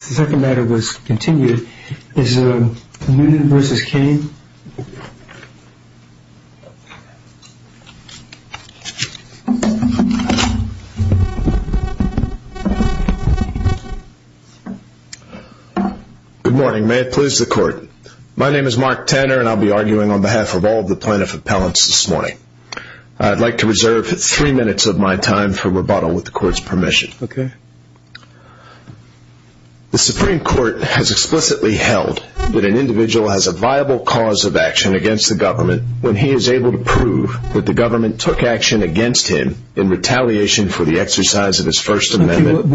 Good morning. May it please the court. My name is Mark Tanner and I'll be arguing on behalf of all the plaintiff appellants this morning. I'd like to reserve three minutes of my time for rebuttal with the court's permission. The Supreme Court has explicitly held that an individual has a viable cause of action against the government when he is able to prove that the government took action against him in retaliation for the exercise of his First Amendment.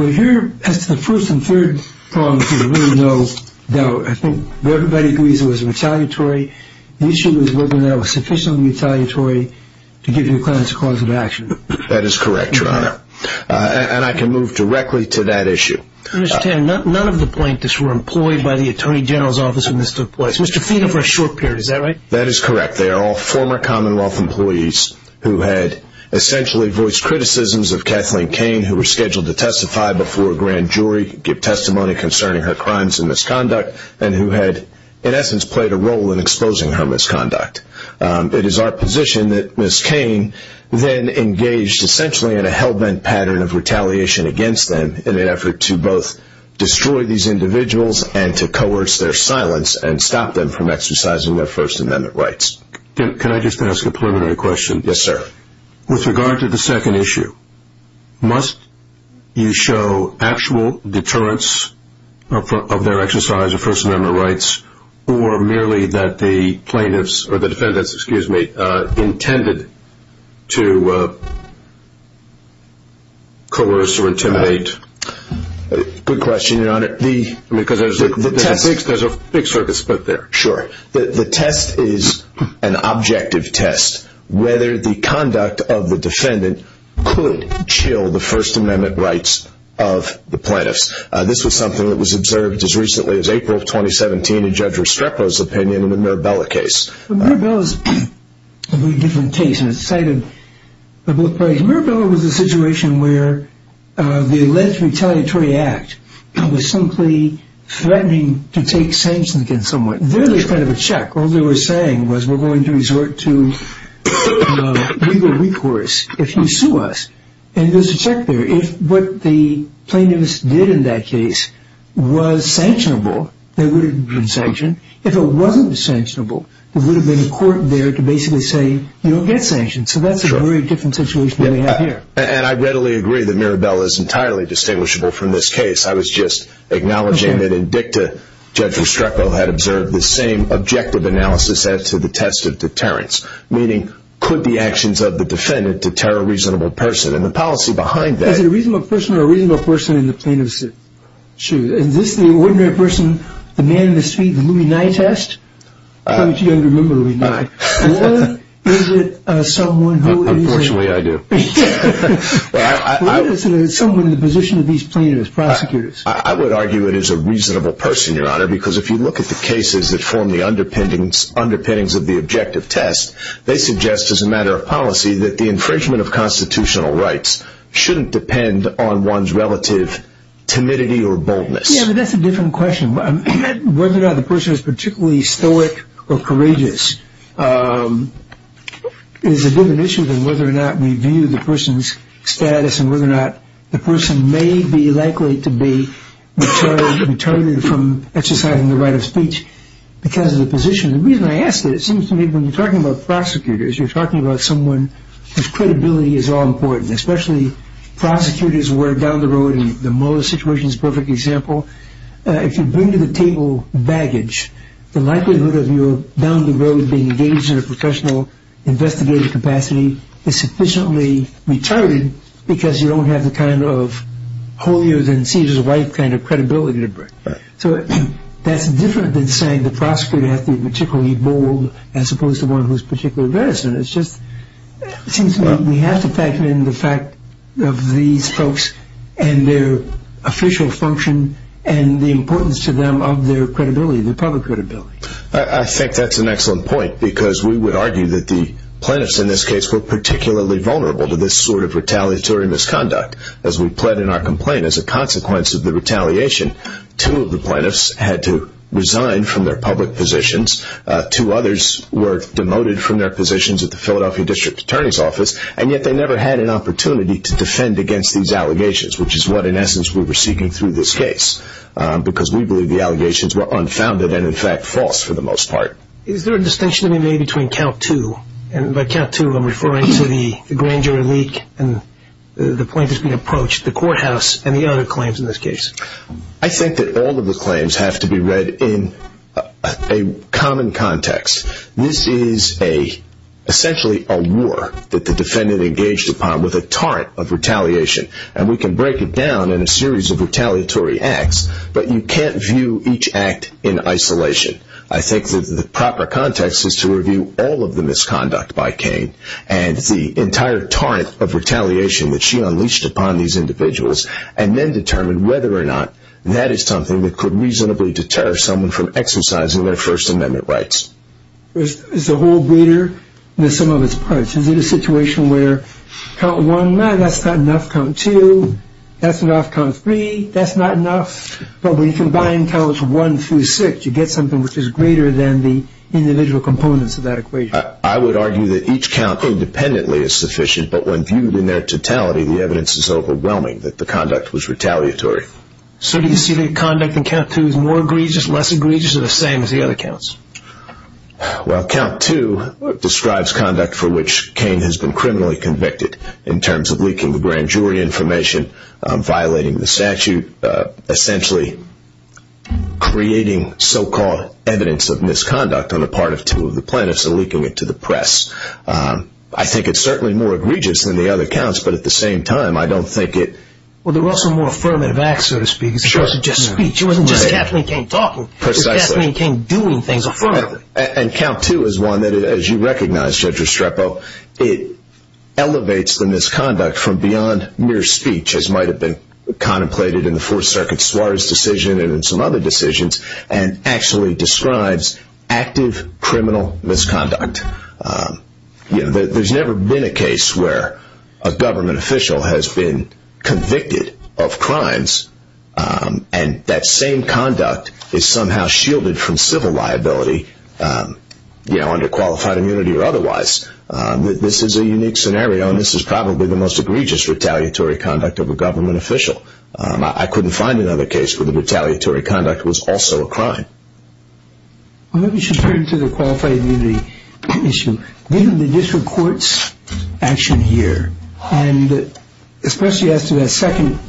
Mr. Tanner, none of the plaintiffs were employed by the Attorney General's office when this took place. Mr. Fito for a short period, is that right? That is correct. They are all former Commonwealth employees who had essentially voiced criticisms of Kathleen Kane who was scheduled to testify before a grand jury, give testimony concerning her crimes and misconduct, and who had, in essence, played a role in exposing her misconduct. It is our position that Ms. Kane then engaged essentially in a hell-bent pattern of retaliation against them in an effort to both destroy these individuals and to coerce their silence and stop them from exercising their First Amendment rights. Can I just ask a preliminary question? Yes, sir. With regard to the second issue, must you show actual deterrence of their exercise of First Amendment rights or merely that the plaintiffs or the defendants intended to coerce or intimidate? Good question, Your Honor. There's a big circuit split there. Sure. The test is an objective test, whether the conduct of the defendant could chill the First Amendment rights of the plaintiffs. This was something that was observed as recently as April of 2017 in Judge Restrepo's opinion in the Mirabella case. The Mirabella is a very different case. Mirabella was a situation where the alleged retaliatory act was simply threatening to take sanctions against someone. There was kind of a check. All they were saying was, we're going to resort to legal recourse if you sue us. And there's a check there. If what the plaintiffs did in that case was sanctionable, there would have been sanction. If it wasn't sanctionable, there would have been a court there to basically say, you don't get sanctioned. So that's a very different situation than we have here. And I readily agree that Mirabella is entirely distinguishable from this case. I was just acknowledging that in dicta, Judge Restrepo had observed the same objective analysis as to the test of deterrence, meaning, could the actions of the defendant deter a reasonable person? And the policy behind that... Is it a reasonable person or a reasonable person in the plaintiff's shoes? Is this the ordinary person, the man in the suit, the Louis Nye test? I don't think you remember Louis Nye. Or is it someone who is... Actually, I do. Or is it someone in the position of these plaintiffs, prosecutors? I would argue it is a reasonable person, Your Honor, because if you look at the cases that form the underpinnings of the objective test, they suggest as a matter of policy that the infringement of constitutional rights shouldn't depend on one's relative timidity or boldness. Yeah, but that's a different question. Whether or not the person is particularly stoic or not may view the person's status and whether or not the person may be likely to be deterred from exercising the right of speech because of the position. The reason I ask that, it seems to me when you're talking about prosecutors, you're talking about someone whose credibility is all important, especially prosecutors who are down the road, and the Mueller situation is a perfect example. If you bring to the table baggage, the likelihood of you down the road being engaged in a professional investigative capacity is sufficiently retarded because you don't have the kind of holier than Caesar's wife kind of credibility to bring. So that's different than saying the prosecutor has to be particularly bold as opposed to one who is particularly reticent. It seems to me we have to factor in the fact of these folks and their official function and the importance to them of their credibility, their public credibility. I think that's an excellent point because we would argue that the plaintiffs in this case were particularly vulnerable to this sort of retaliatory misconduct. As we pled in our complaint, as a consequence of the retaliation, two of the plaintiffs had to resign from their public positions, two others were demoted from their positions at the Philadelphia District Attorney's Office, and yet they never had an opportunity to defend against these allegations, which is what in essence we were seeking through this case because we believe the allegations were unfounded and in fact false for the most part. Is there a distinction to be made between count two, and by count two I'm referring to the grand jury leak and the plaintiffs being approached, the courthouse and the other claims in this case? I think that all of the claims have to be read in a common context. This is essentially a war that the defendant engaged upon with a torrent of retaliation, and we can break it down in a series of retaliatory acts, but you can't view each act in isolation. I think that the proper context is to review all of the misconduct by Cain, and the entire torrent of retaliation that she unleashed upon these individuals, and then determine whether or not that is something that could reasonably deter someone from exercising their First Amendment rights. There's a whole breeder, and there's some of its parts. Is it a situation where count That's enough, count three. That's not enough. But when you combine counts one through six, you get something which is greater than the individual components of that equation. I would argue that each count independently is sufficient, but when viewed in their totality, the evidence is overwhelming that the conduct was retaliatory. So do you see the conduct in count two as more egregious, less egregious, or the same as the other counts? Well count two describes conduct for which Cain has been criminally convicted in terms of leaking the grand jury information, violating the statute, essentially creating so-called evidence of misconduct on the part of two of the plaintiffs, and leaking it to the press. I think it's certainly more egregious than the other counts, but at the same time I don't think it Well they're also more affirmative acts, so to speak, as opposed to just speech. It wasn't just Kathleen Cain talking. It was Kathleen Cain doing things affirmatively. And count two is one that, as you recognize Judge Restrepo, it elevates the misconduct from beyond mere speech, as might have been contemplated in the Fourth Circuit Suarez decision and in some other decisions, and actually describes active criminal misconduct. There's never been a case where a government official has been convicted of crimes and that same conduct is somehow shielded from civil liability, you know, under qualified immunity or otherwise. This is a unique scenario, and this is probably the most egregious retaliatory conduct of a government official. I couldn't find another case where the retaliatory conduct was also a crime. Well maybe we should turn to the qualified immunity issue. Given the district court's action here, and especially as to that second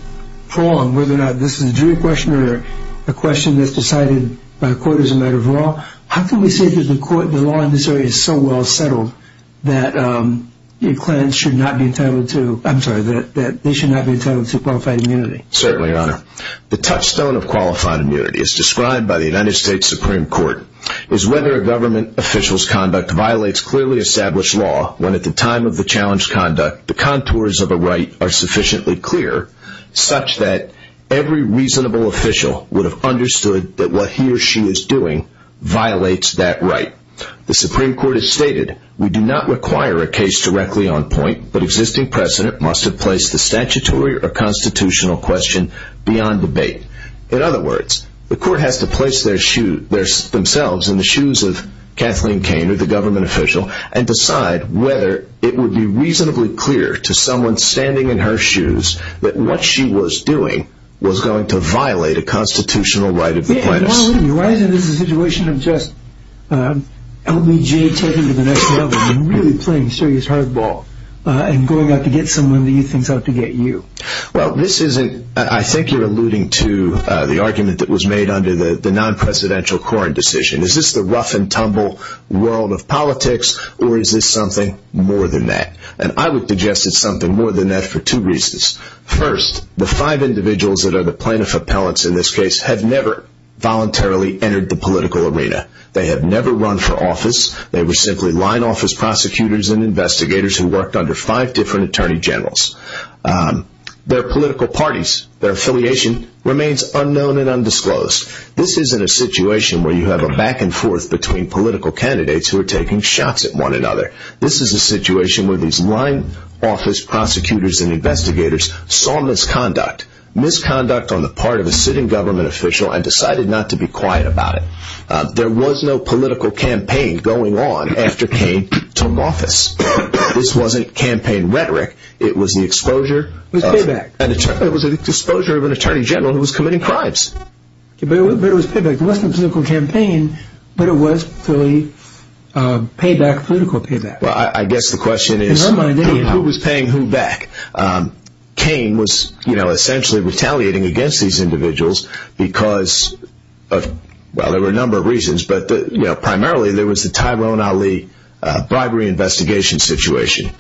prong, whether or not this is a jury question or a question that's decided by a court as a matter of law, how can we say that the law in this area is so well settled that clans should not be entitled to, I'm sorry, that they should not be entitled to qualified immunity? Certainly, Your Honor. The touchstone of qualified immunity, as described by the United States Supreme Court, is whether a government official's conduct violates clearly established law when at the time of the challenged conduct, the contours of a right are sufficiently clear such that every reasonable official would have understood that what he or she is doing violates that right. The Supreme Court has stated, we do not require a case directly on point, but existing precedent must have placed the statutory or constitutional question beyond debate. In other words, the court has to place themselves in the shoes of Kathleen Kane or the government official and decide whether it would be reasonably clear to someone standing in her shoes that what she was doing was going to violate a constitutional right of the plaintiffs. Why isn't this a situation of just LBJ taking to the next level and really playing serious hardball and going out to get someone to use things out to get you? Well, this isn't, I think you're alluding to the argument that was made under the non-presidential Koren decision. Is this the rough and tumble world of politics or is this something more than that? And I would suggest it's something more than that for two reasons. First, the five individuals that are the plaintiff appellants in this case have never voluntarily entered the political arena. They have never run for office. They were simply line office prosecutors and investigators who worked under five different attorney generals. Their political parties, their affiliation remains unknown and undisclosed. This isn't a situation where you have a back and forth between political candidates who are taking shots at one another. This is a situation where these line office prosecutors and investigators saw misconduct, misconduct on the part of a sitting government official and decided not to be quiet about it. There was no political campaign going on after Cain took office. This wasn't campaign rhetoric. It was the exposure of an attorney general who was committing crimes. But it was payback. It wasn't a political campaign, but it was fully political payback. Well, I guess the question is who was paying who back? Cain was essentially retaliating against these individuals because of, well, there were a number of reasons, but primarily there was the Tyrone Ali bribery investigation situation.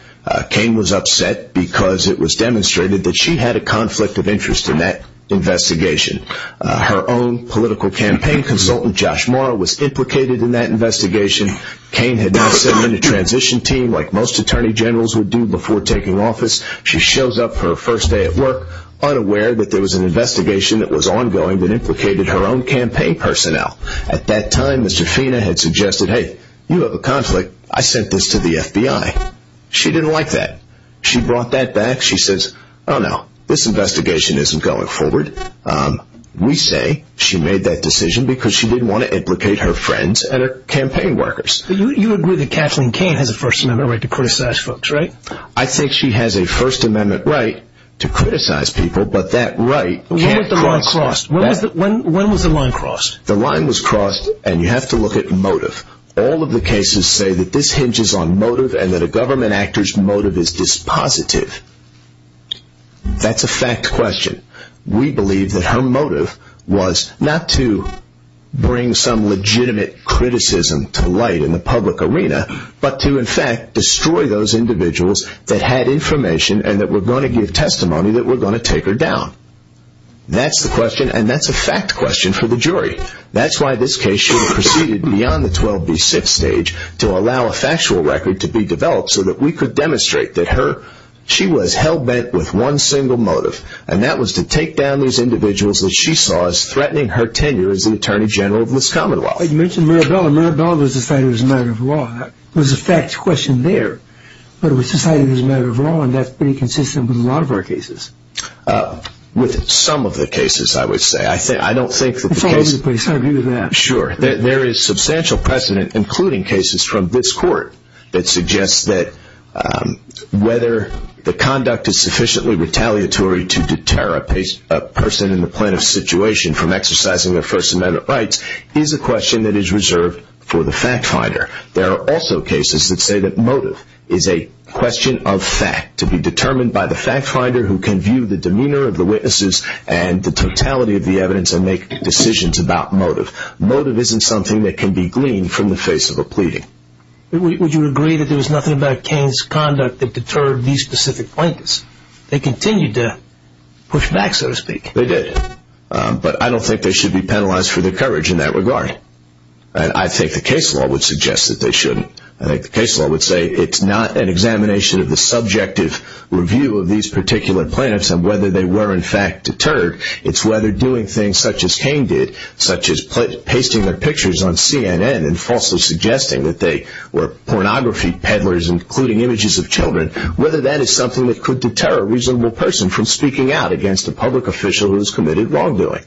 Cain was upset because it was demonstrated that she had a conflict of interest in that investigation. Her own political campaign consultant, Josh Morrow, was implicated in that investigation. Cain had now set up a transition team like most attorney generals would do before taking office. She shows up for her first day at work, unaware that there was an investigation that was ongoing that implicated her own campaign personnel. At that time, Mr. Fina had suggested, hey, you have a conflict. I sent this to the FBI. She didn't like that. She brought that back. She says, oh, no, this investigation isn't going forward. We say she made that decision because she didn't want to implicate her friends and her campaign workers. You agree that Kathleen Cain has a First Amendment right to criticize folks, right? I think she has a First Amendment right to criticize people, but that right can't cross When was the line crossed? The line was crossed, and you have to look at motive. All of the cases say that this That's a fact question. We believe that her motive was not to bring some legitimate criticism to light in the public arena, but to, in fact, destroy those individuals that had information and that were going to give testimony that were going to take her down. That's the question, and that's a fact question for the jury. That's why this case should have proceeded beyond the 12B6 stage to allow a factual record to be developed so that we could demonstrate that she was hell-bent with one single motive, and that was to take down those individuals that she saw as threatening her tenure as the Attorney General of this Commonwealth. You mentioned Mirabella. Mirabella was decided as a matter of law. That was a fact question there, but it was decided as a matter of law, and that's pretty consistent with a lot of our cases. With some of the cases, I would say. I don't think that the case It's all over the place. I agree with that. Sure. There is substantial precedent, including cases from this Court, that suggests that whether the conduct is sufficiently retaliatory to deter a person in the plaintiff's situation from exercising their First Amendment rights is a question that is reserved for the fact finder. There are also cases that say that motive is a question of fact to be determined by the fact finder who can view the demeanor of the witnesses and the totality of the evidence and make decisions about motive. Motive isn't something that can be gleaned from the face of a pleading. Would you agree that there was nothing about Kane's conduct that deterred these specific plaintiffs? They continued to push back, so to speak. They did, but I don't think they should be penalized for their courage in that regard. I think the case law would suggest that they shouldn't. I think the case law would say it's not an examination of the subjective review of these particular plaintiffs and whether they were, in fact, deterred. It's whether doing things such as Kane did, such as pasting their pictures on CNN and falsely suggesting that they were pornography peddlers including images of children, whether that is something that could deter a reasonable person from speaking out against a public official who has committed wrongdoing.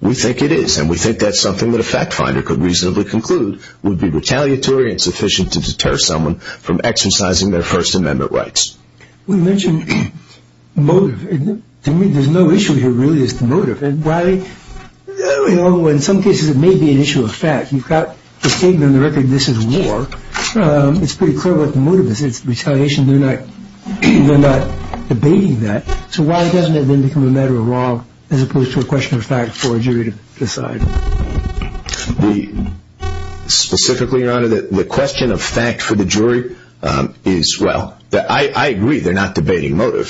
We think it is, and we think that's something that a fact finder could reasonably conclude would be retaliatory and sufficient to deter someone from exercising their First Amendment rights. We mentioned motive. To me, there's no issue here, really, is the motive. Why, you know, in some cases it may be an issue of fact. You've got the statement on the record, this is war. It's pretty clear what the motive is. It's retaliation. They're not debating that. So why doesn't it then become a matter of law as opposed to a question of fact for a jury to decide? Specifically, Your Honor, the question of fact for the jury is, well, I agree, they're not debating motive,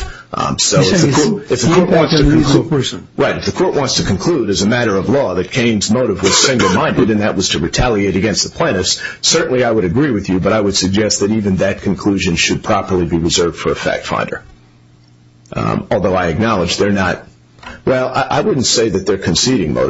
so if the court wants to conclude as a matter of law that Kane's motive was single-minded and that was to retaliate against the plaintiffs, certainly I would agree with you, but I would suggest that even that conclusion should properly be reserved for a fact finder. Although I acknowledge they're not, well, I wouldn't say that they're not.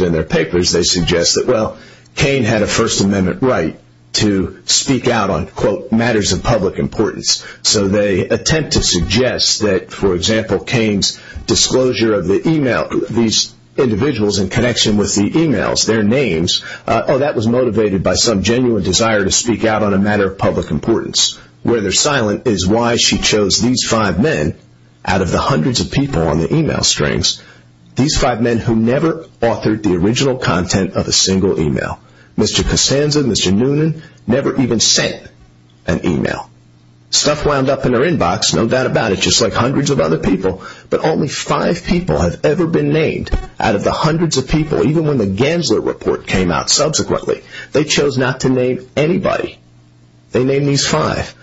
In their papers, they suggest that, well, Kane had a First Amendment right to speak out on, quote, matters of public importance. So they attempt to suggest that, for example, Kane's disclosure of the email, these individuals in connection with the emails, their names, oh, that was motivated by some genuine desire to speak out on a matter of public importance. Where they're silent is why she chose these five men out of the hundreds of people on all content of a single email. Mr. Costanza, Mr. Noonan never even sent an email. Stuff wound up in their inbox, no doubt about it, just like hundreds of other people, but only five people have ever been named out of the hundreds of people, even when the Gensler report came out subsequently. They chose not to name anybody. They named these five.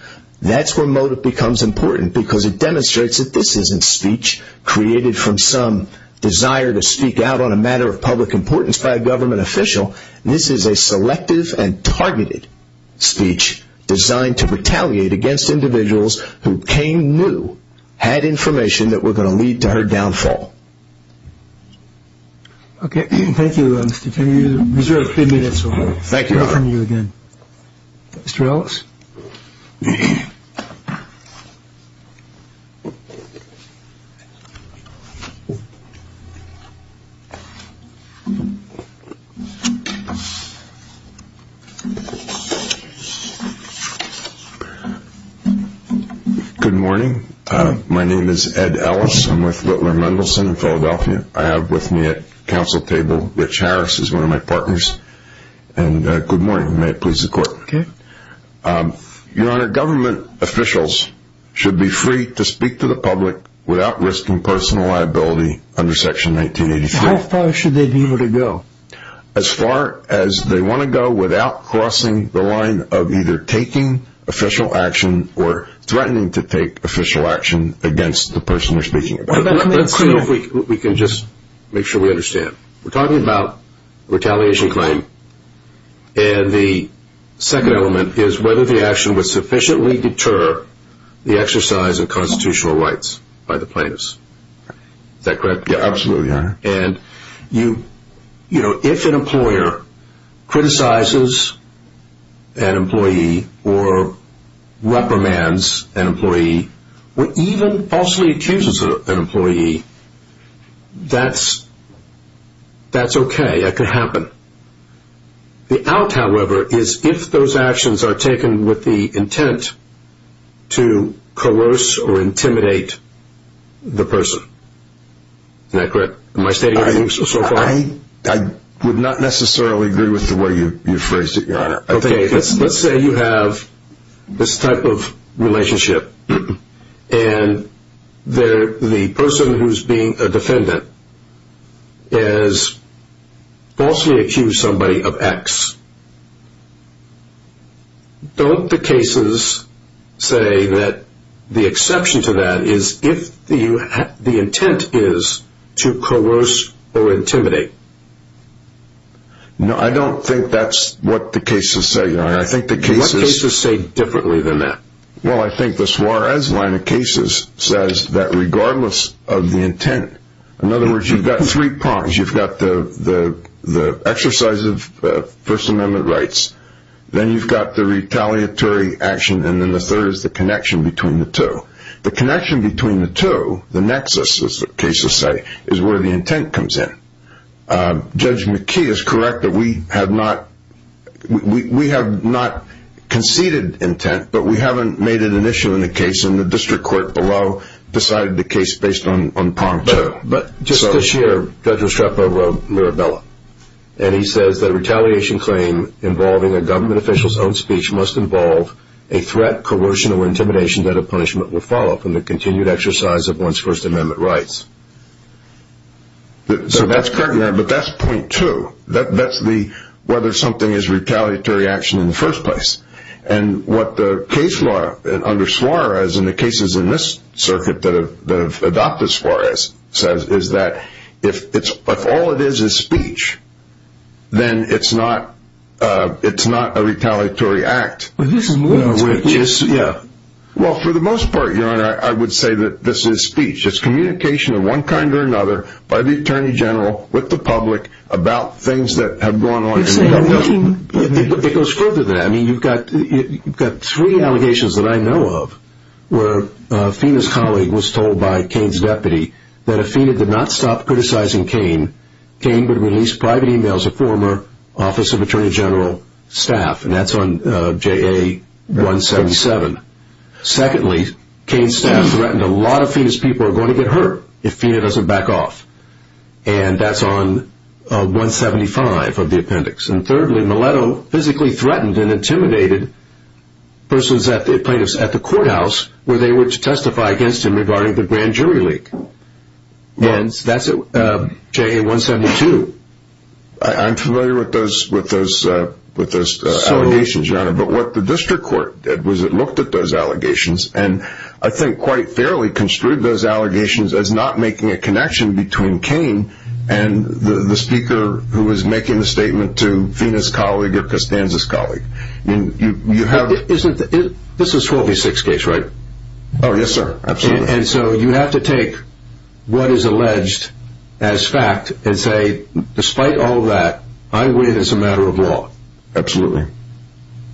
That's where motive becomes important because it demonstrates that this isn't speech created from some desire to speak out on a matter of public importance by a government official. This is a selective and targeted speech designed to retaliate against individuals who Kane knew had information that were going to lead to her downfall. Okay. Thank you, Mr. Chairman. We have a few minutes left. Good morning. My name is Ed Ellis. I'm with Whitler Mendelsohn in Philadelphia. I have with me at council table, Rich Harris is one of my partners. And good morning. May it please the court. Okay. Your Honor, government officials should be free to speak to the public without risking personal liability under section 1983. How far should they be able to go? As far as they want to go without crossing the line of either taking official action or threatening to take official action against the person they're speaking about. Let's see if we can just make sure we understand. We're talking about retaliation claim. And the second element is whether the action would sufficiently deter the exercise of constitutional rights by the plaintiffs. Is that correct? Yeah, absolutely, Your Honor. And you know, if an employer criticizes an employee or reprimands an employee or even falsely accuses an employee, that's okay. That can happen. The out, however, is if those the person. Is that correct? Am I stating everything so far? I would not necessarily agree with the way you phrased it, Your Honor. Okay. Let's say you have this type of relationship and the person who's being a defendant has is if the intent is to coerce or intimidate. No, I don't think that's what the cases say, Your Honor. I think the cases... What cases say differently than that? Well, I think the Suarez line of cases says that regardless of the intent, in other words, you've got three prongs. You've got the exercise of First Amendment rights. Then you've got the retaliatory action, and then the third is the connection between the two. The connection between the two, the nexus, as the cases say, is where the intent comes in. Judge McKee is correct that we have not conceded intent, but we haven't made it an issue in the case and the district court below decided the case based on prong two. But just this year, Judge Estrepo wrote Mirabella, and he says that a retaliation claim involving a government official's own speech must involve a threat, coercion, or intimidation that a punishment will follow from the continued exercise of one's First Amendment rights. So that's correct, Your Honor, but that's point two. That's the whether something is retaliatory action in the first place. And what the case law under Suarez and the cases in this circuit that have adopted Suarez says is that if all it is is speech, then it's not a retaliatory act. Well, for the most part, Your Honor, I would say that this is speech. It's communication of one kind or another by the Attorney General with the public about things that have gone on. It goes further than that. I mean, you've got three allegations that I know of where Afina's colleague was told by Kane's deputy that if Afina did not stop criticizing Kane, Kane would release private emails of former Office of Attorney General staff, and that's on JA-177. Secondly, Kane's staff threatened a lot of Afina's people are going to get hurt if Afina doesn't back off, and that's on 175 of the appendix. And thirdly, Mileto physically threatened and intimidated persons, plaintiffs at the courthouse, where they were to testify against him regarding the grand jury leak. And that's on JA-172. I'm familiar with those allegations, Your Honor, but what the district court did was it looked at those allegations and I think quite fairly construed those allegations as not making a connection between Kane and the speaker who was making the statement to Afina's colleague or Costanza's colleague. This is a 12-6 case, right? Oh, yes, sir. Absolutely. And so you have to take what is alleged as fact and say, despite all that, I win as a matter of law. Absolutely.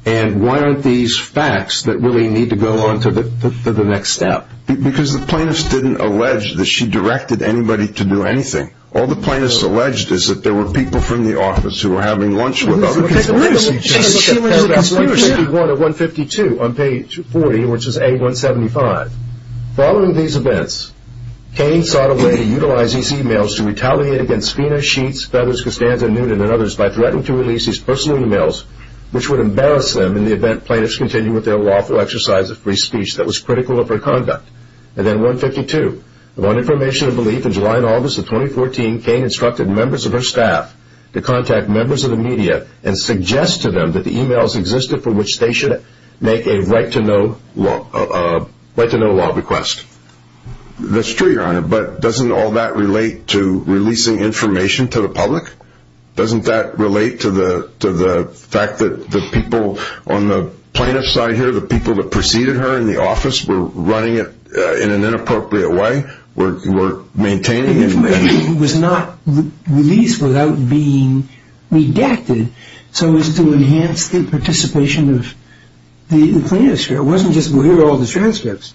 And why aren't these facts that really need to go on to the next step? Because the plaintiffs didn't allege that she directed anybody to do anything. All the plaintiffs alleged is that there were people from the office who were having lunch with other people. She was an explorer, too. Page 151 of 152 on page 40, which is A-175. Following these events, Kane sought a way to utilize these emails to retaliate against Afina, Sheets, Feathers, Costanza, Noonan, and others by threatening to release these personal emails, which would embarrass them in the event plaintiffs continued with their lawful exercise of free speech that was critical of her conduct. And then 152. Upon information and belief, in July and August of 2014, Kane instructed members of her staff to contact members of the media and suggest to them that the emails existed for which they should make a right-to-know law request. That's true, Your Honor, but doesn't all that relate to releasing information to the public? Doesn't that relate to the fact that the people on the plaintiff's side here, the people that preceded her in the office, were running it in an inappropriate way? The information was not released without being redacted so as to enhance the participation of the plaintiffs. It wasn't just, well, here are all the transcripts.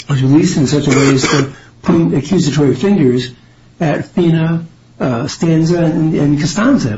It was released in such a way as to point accusatory fingers at Afina, Stanza, and Costanza.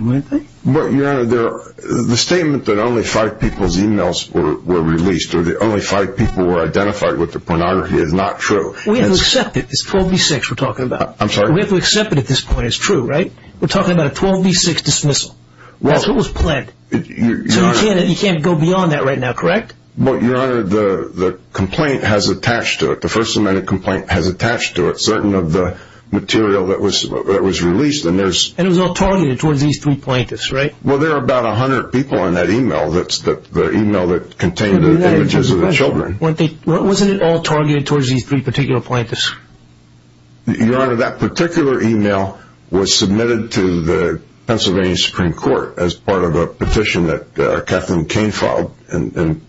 The statement that only five people's emails were released or that only five people were identified with the pornography is not true. We have to accept it. It's 12B6 we're talking about. I'm sorry? We have to accept it at this point. It's true, right? We're talking about a 12B6 dismissal. That's what was planned. So you can't go beyond that right now, correct? Well, Your Honor, the complaint has attached to it. The first amendment complaint has attached to it certain of the material that was released. And it was all targeted towards these three plaintiffs, right? Well, there are about 100 people in that email that contained the images of the children. Wasn't it all targeted towards these three particular plaintiffs? Your Honor, that particular email was submitted to the Pennsylvania Supreme Court as part of a petition that Kathleen Kain filed. And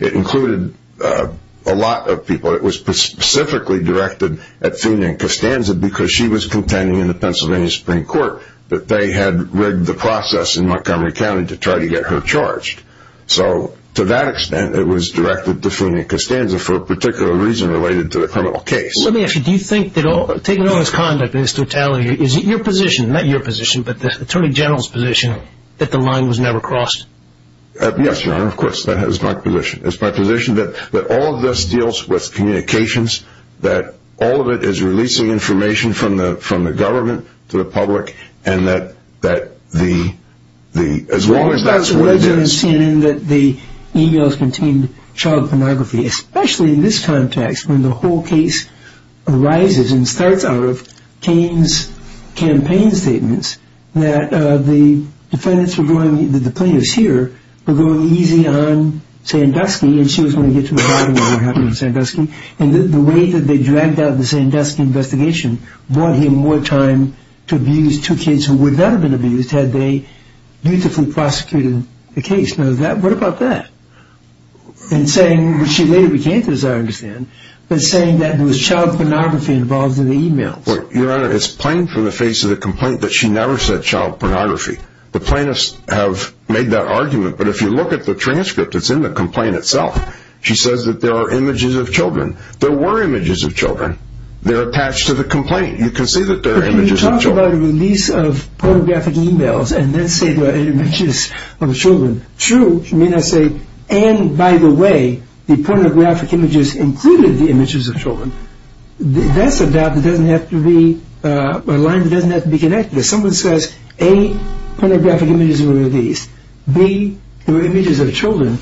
it included a lot of people. It was specifically directed at Afina and Costanza because she was contending in the Pennsylvania Supreme Court that they had rigged the process in Montgomery County to try to get her charged. So to that extent, it was directed to Afina and Costanza for a particular reason related to the criminal case. Let me ask you, do you think that taking on this conduct in its totality, is it your position, not your position, but the Attorney General's position, that the line was never crossed? Yes, Your Honor, of course. That is my position. It's my position that all of this deals with communications, that all of it is releasing information from the government to the public, and that as long as that's what it is... I understand that the emails contained child pornography, especially in this context when the whole case arises and starts out of Kain's campaign statements that the plaintiffs here were going easy on Sandusky and she was going to get to the bottom of what happened to Sandusky. And the way that they dragged out the Sandusky investigation bought him more time to abuse two kids who would not have been abused had they beautifully prosecuted the case. Now, what about that? And saying, which she later began to, as I understand, but saying that there was child pornography involved in the emails. Your Honor, it's plain from the face of the complaint that she never said child pornography. The plaintiffs have made that argument, but if you look at the transcript that's in the complaint itself, she says that there are images of children. There were images of children. They're attached to the complaint. You can see that there are images of children. If you talk about a release of pornographic emails and then say there are images of children, true, you may not say, and by the way, the pornographic images included the images of children. That's a line that doesn't have to be connected. If someone says, A, pornographic images were released, B, there were images of children,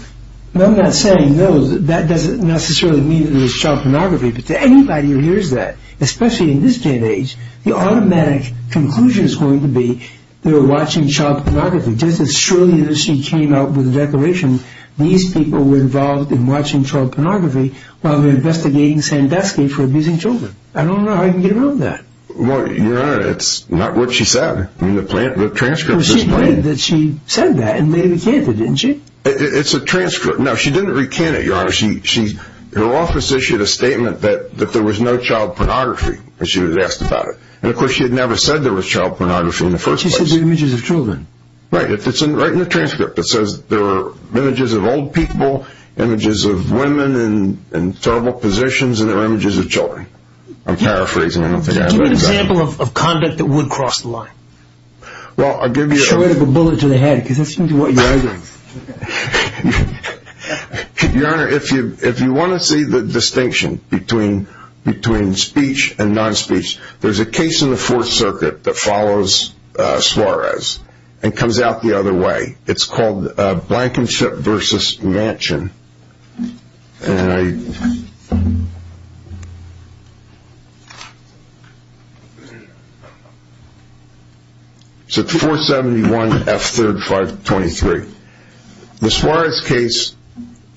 I'm not saying, no, that doesn't necessarily mean that there was child pornography, but anybody who hears that, especially in this day and age, the automatic conclusion is going to be they were watching child pornography. Just as surely as she came out with a declaration, these people were involved in watching child pornography while they were investigating Sandusky for abusing children. I don't know how you can get around that. Your Honor, it's not what she said. The transcript is plain. She said that and later recanted, didn't she? It's a transcript. No, she didn't recant it, Your Honor. Her office issued a statement that there was no child pornography. She was asked about it. Of course, she had never said there was child pornography in the first place. She said there were images of children. Right, it's right in the transcript. It says there were images of old people, images of women in terrible positions, and there were images of children. I'm paraphrasing. Give me an example of conduct that would cross the line. Well, I'll give you an example. Show it with a bullet to the head, because that's what you're arguing. Your Honor, if you want to see the distinction between speech and non-speech, there's a case in the Fourth Circuit that follows Suarez and comes out the other way. It's called Blankenship v. Manchin. It's at 471 F3rd 523. The Suarez case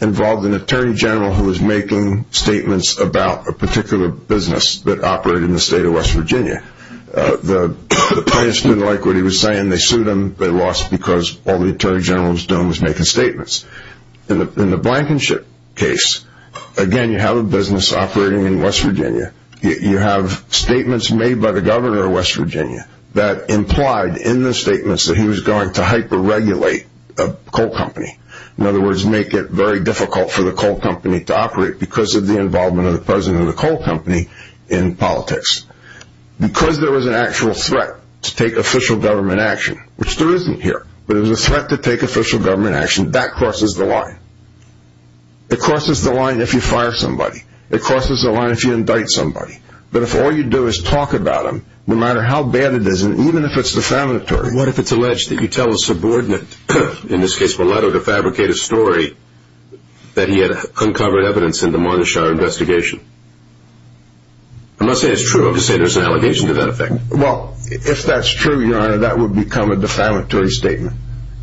involved an attorney general who was making statements about a particular business that operated in the state of West Virginia. The plaintiffs didn't like what he was saying. They sued him. They lost because all the attorney general was doing was making statements. In the Blankenship case, again, you have a business operating in West Virginia. You have statements made by the governor of West Virginia that implied in the statements that he was going to hyper-regulate a coal company. In other words, make it very difficult for the coal company to operate because of the involvement of the president of the coal company in politics. Because there was an actual threat to take official government action, which there isn't It crosses the line. It crosses the line if you fire somebody. It crosses the line if you indict somebody. But if all you do is talk about them, no matter how bad it is, and even if it's defamatory. What if it's alleged that you tell a subordinate, in this case Mulatto, to fabricate a story that he had uncovered evidence in the Monteshire investigation? I'm not saying it's true. I'm just saying there's an allegation to that effect. Well, if that's true, your honor, that would become a defamatory statement.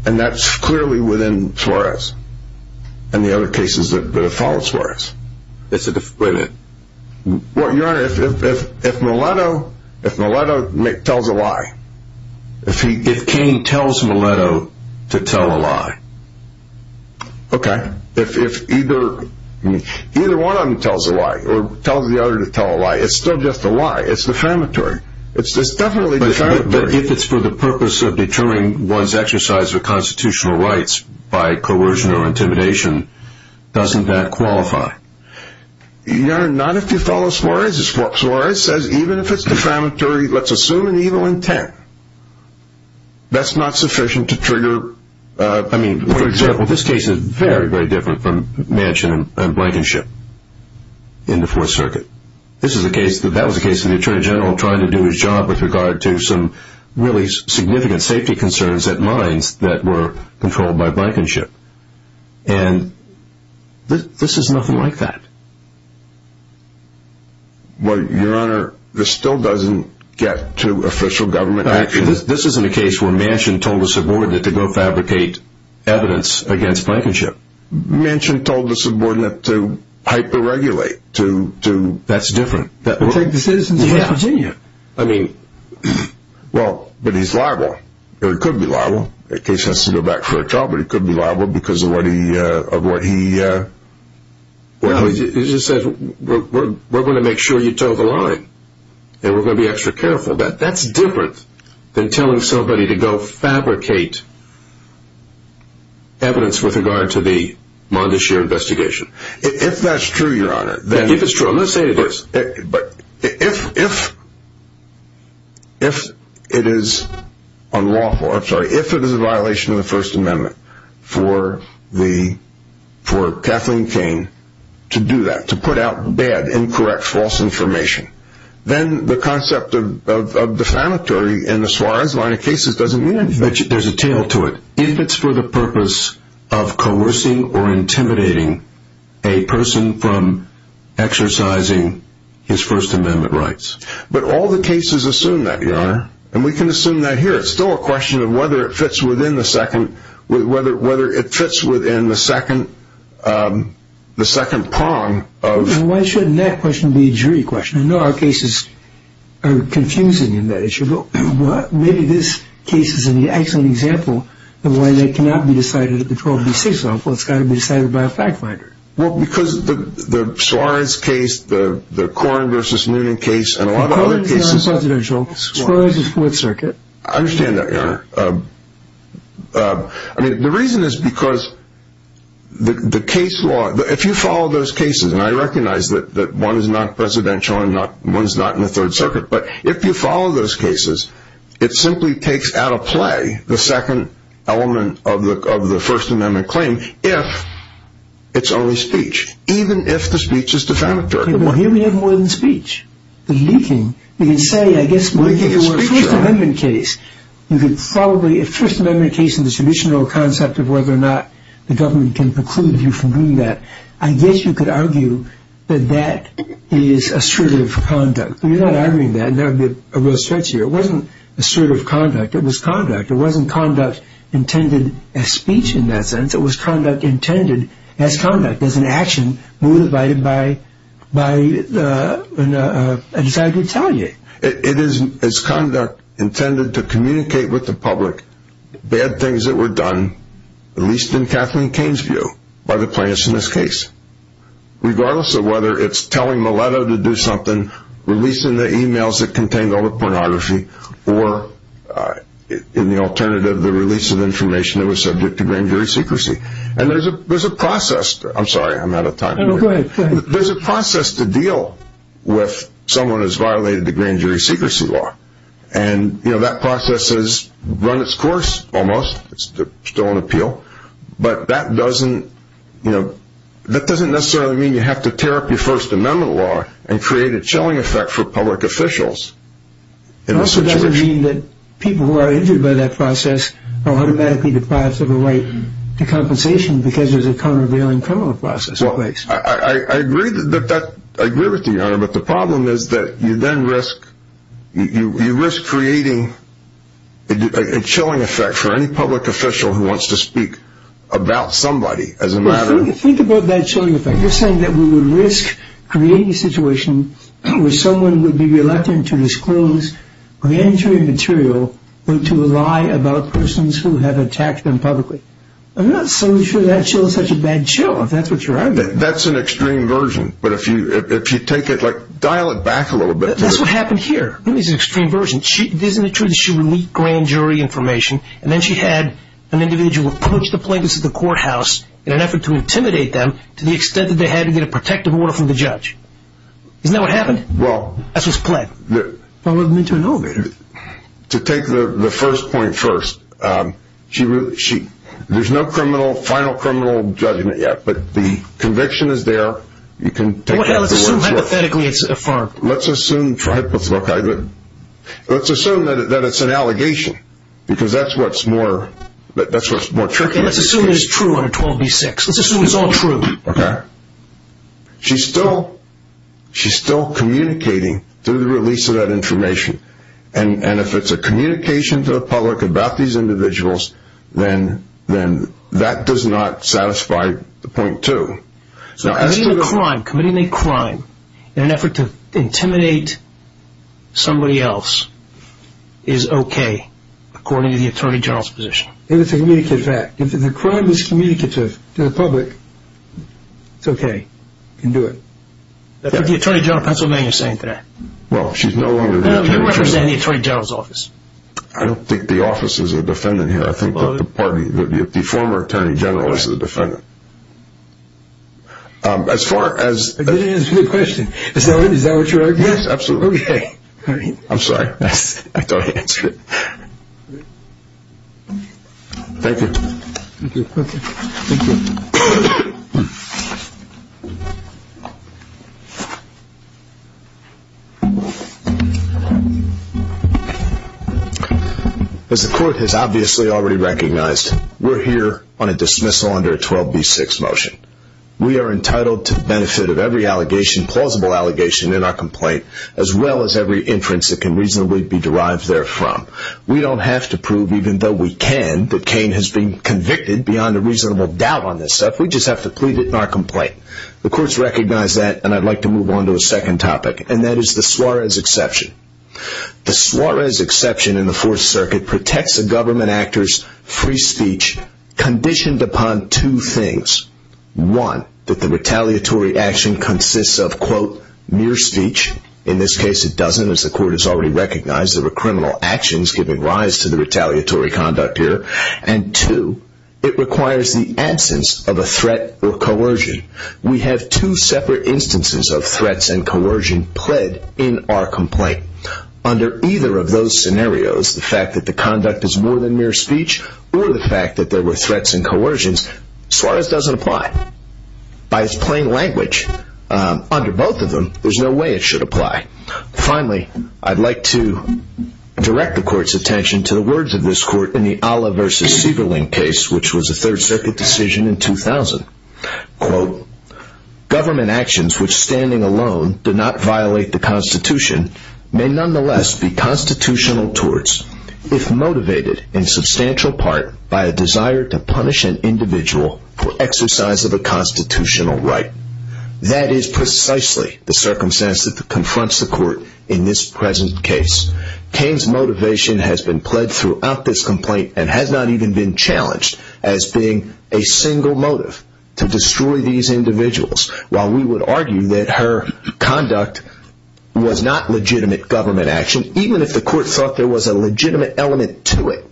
And that's clearly within Suarez. And the other cases that have followed Suarez. It's a defamatory statement. Well, your honor, if Mulatto tells a lie. If Cain tells Mulatto to tell a lie. Okay. If either one of them tells a lie, or tells the other to tell a lie, it's still just a lie. It's defamatory. It's definitely defamatory. But if it's for the purpose of determining one's exercise of constitutional rights by coercion or intimidation, doesn't that qualify? Your honor, not if you follow Suarez. Suarez says, even if it's defamatory, let's assume an evil intent. That's not sufficient to trigger... I mean, for example, this case is very, very different from Manchin and Blankenship. In the Fourth Circuit. That was a case of the Attorney General trying to do his job with regard to some really significant safety concerns at mines that were controlled by Blankenship. And this is nothing like that. Well, your honor, this still doesn't get to official government action. This isn't a case where Manchin told a subordinate to go fabricate evidence against Blankenship. Manchin told the subordinate to hyper-regulate. That's different. To protect the citizens of West Virginia. But he's liable. Or he could be liable. The case has to go back for a trial, but he could be liable because of what he... He just said, we're going to make sure you tell the lie. And we're going to be extra careful. That's different than telling somebody to go fabricate evidence with regard to the Mondashir investigation. If that's true, your honor... If it's true, let's say it is. If it is unlawful, I'm sorry, if it is a violation of the First Amendment for Kathleen Kane to do that, to put out bad, incorrect, false information, then the concept of defamatory in the Suarez line of cases doesn't mean anything. But there's a tale to it. If it's for the purpose of coercing or intimidating a person from exercising his First Amendment rights. But all the cases assume that, your honor. And we can assume that here. It's still a question of whether it fits within the second, whether it fits within the second prong of... Some of our cases are confusing in that issue. Maybe this case is an excellent example of why they cannot be decided at the 12 v. 6 level. It's got to be decided by a fact finder. Well, because the Suarez case, the Corrin v. Noonan case, and a lot of other cases... Corrin's not presidential. Suarez is 4th Circuit. I understand that, your honor. I mean, the reason is because the case law... If you follow those cases, and I recognize that one is not presidential and one is not in the 3rd Circuit, but if you follow those cases, it simply takes out of play the second element of the First Amendment claim, if it's only speech. Even if the speech is defamatory. But here we have more than speech. The leaking. We can say, I guess, if it were a First Amendment case, you could probably, if First Amendment case is the traditional concept of whether or not the government can preclude you from doing that, I guess you could argue that that is assertive conduct. You're not arguing that. That would be a real stretch here. It wasn't assertive conduct. It was conduct. It wasn't conduct intended as speech, in that sense. It was conduct intended as conduct. As an action motivated by a desire to retaliate. It is conduct intended to communicate with the public bad things that were done, at least in Kathleen Kane's view, by the plaintiffs in this case. Regardless of whether it's telling Mileto to do something, releasing the emails that contained all the pornography, or in the alternative, the release of information that was subject to grand jury secrecy. And there's a process... I'm sorry, I'm out of time here. No, go ahead. There's a process to deal with someone who's violated the grand jury secrecy law. And that process has run its course, almost. It's still on appeal. But that doesn't necessarily mean you have to tear up your First Amendment law and create a chilling effect for public officials in this situation. It also doesn't mean that people who are injured by that process are automatically deprived of a right to compensation because there's a countervailing criminal process in place. I agree with you, Your Honor. But the problem is that you risk creating a chilling effect for any public official who wants to speak about somebody as a matter of... Think about that chilling effect. You're saying that we would risk creating a situation where someone would be reluctant to disclose grand jury material or to lie about persons who have attacked them publicly. I'm not so sure that's such a bad chill, if that's what you're arguing. That's an extreme version. But if you dial it back a little bit... That's what happened here. What do you mean it's an extreme version? Isn't it true that she would leak grand jury information and then she had an individual approach the plaintiffs at the courthouse in an effort to intimidate them to the extent that they had to get a protective order from the judge? Isn't that what happened? Well... That's what's played. Followed them into an elevator. To take the first point first, there's no final criminal judgment yet, but the conviction is there. Let's assume hypothetically it's affirmed. Let's assume that it's an allegation. Because that's what's more tricky. Let's assume it's true under 12b-6. Let's assume it's all true. Okay. She's still communicating through the release of that information. And if it's a communication to the public about these individuals, then that does not satisfy the point two. So committing a crime in an effort to intimidate somebody else is okay according to the Attorney General's position? It's a communicative act. If the crime is communicative to the public, it's okay. You can do it. That's what the Attorney General of Pennsylvania is saying today. Well, she's no longer the Attorney General. You represent the Attorney General's office. I don't think the office is a defendant here. I think that the former Attorney General is the defendant. I didn't answer the question. Is that what you're arguing? Yes, absolutely. Okay. I'm sorry. I don't answer it. Thank you. Thank you. Okay. Thank you. As the court has obviously already recognized, we're here on a dismissal under a 12B6 motion. We are entitled to benefit of every allegation, plausible allegation in our complaint, as well as every inference that can reasonably be derived therefrom. We don't have to prove, even though we can, that Cain has been convicted beyond a reasonable doubt on this stuff. We just have to plead it in our complaint. The court's recognized that, and I'd like to move on to a second topic, and that is the Suarez exception. The Suarez exception in the Fourth Circuit protects a government actor's free speech conditioned upon two things. One, that the retaliatory action consists of, quote, mere speech. In this case, it doesn't, as the court has already recognized. There were criminal actions giving rise to the retaliatory conduct here. And two, it requires the absence of a threat or coercion. We have two separate instances of threats and coercion pled in our complaint. Under either of those scenarios, the fact that the conduct is more than mere speech, or the fact that there were threats and coercions, Suarez doesn't apply. By its plain language, under both of them, there's no way it should apply. Finally, I'd like to direct the court's attention to the words of this court in the Alla v. Sieberling case, which was a Third Circuit decision in 2000. Quote, Government actions which standing alone do not violate the Constitution may nonetheless be constitutional torts, if motivated in substantial part by a desire to punish an individual for exercise of a constitutional right. That is precisely the circumstance that confronts the court in this present case. Kane's motivation has been pled throughout this complaint and has not even been challenged as being a single motive to destroy these individuals. While we would argue that her conduct was not legitimate government action, even if the court thought there was a legitimate element to it,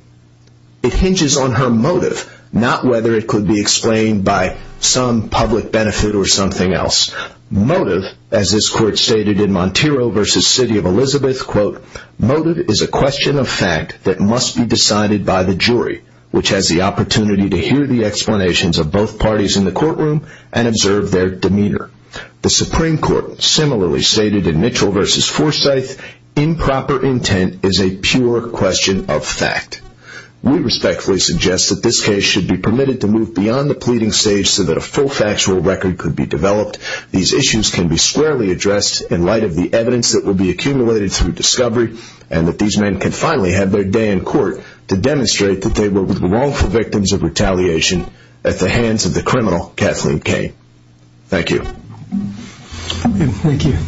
it hinges on her motive, not whether it could be explained by some public benefit or something else. Motive, as this court stated in Montero v. City of Elizabeth, quote, motive is a question of fact that must be decided by the jury, which has the opportunity to hear the explanations of both parties in the courtroom and observe their demeanor. The Supreme Court similarly stated in Mitchell v. Forsyth, improper intent is a pure question of fact. We respectfully suggest that this case should be permitted to move beyond the pleading stage so that a full factual record could be developed. These issues can be squarely addressed in light of the evidence that will be accumulated through discovery and that these men can finally have their day in court to demonstrate that they were the wrongful victims of retaliation at the hands of the criminal Kathleen Kaye. Thank you. Thank you.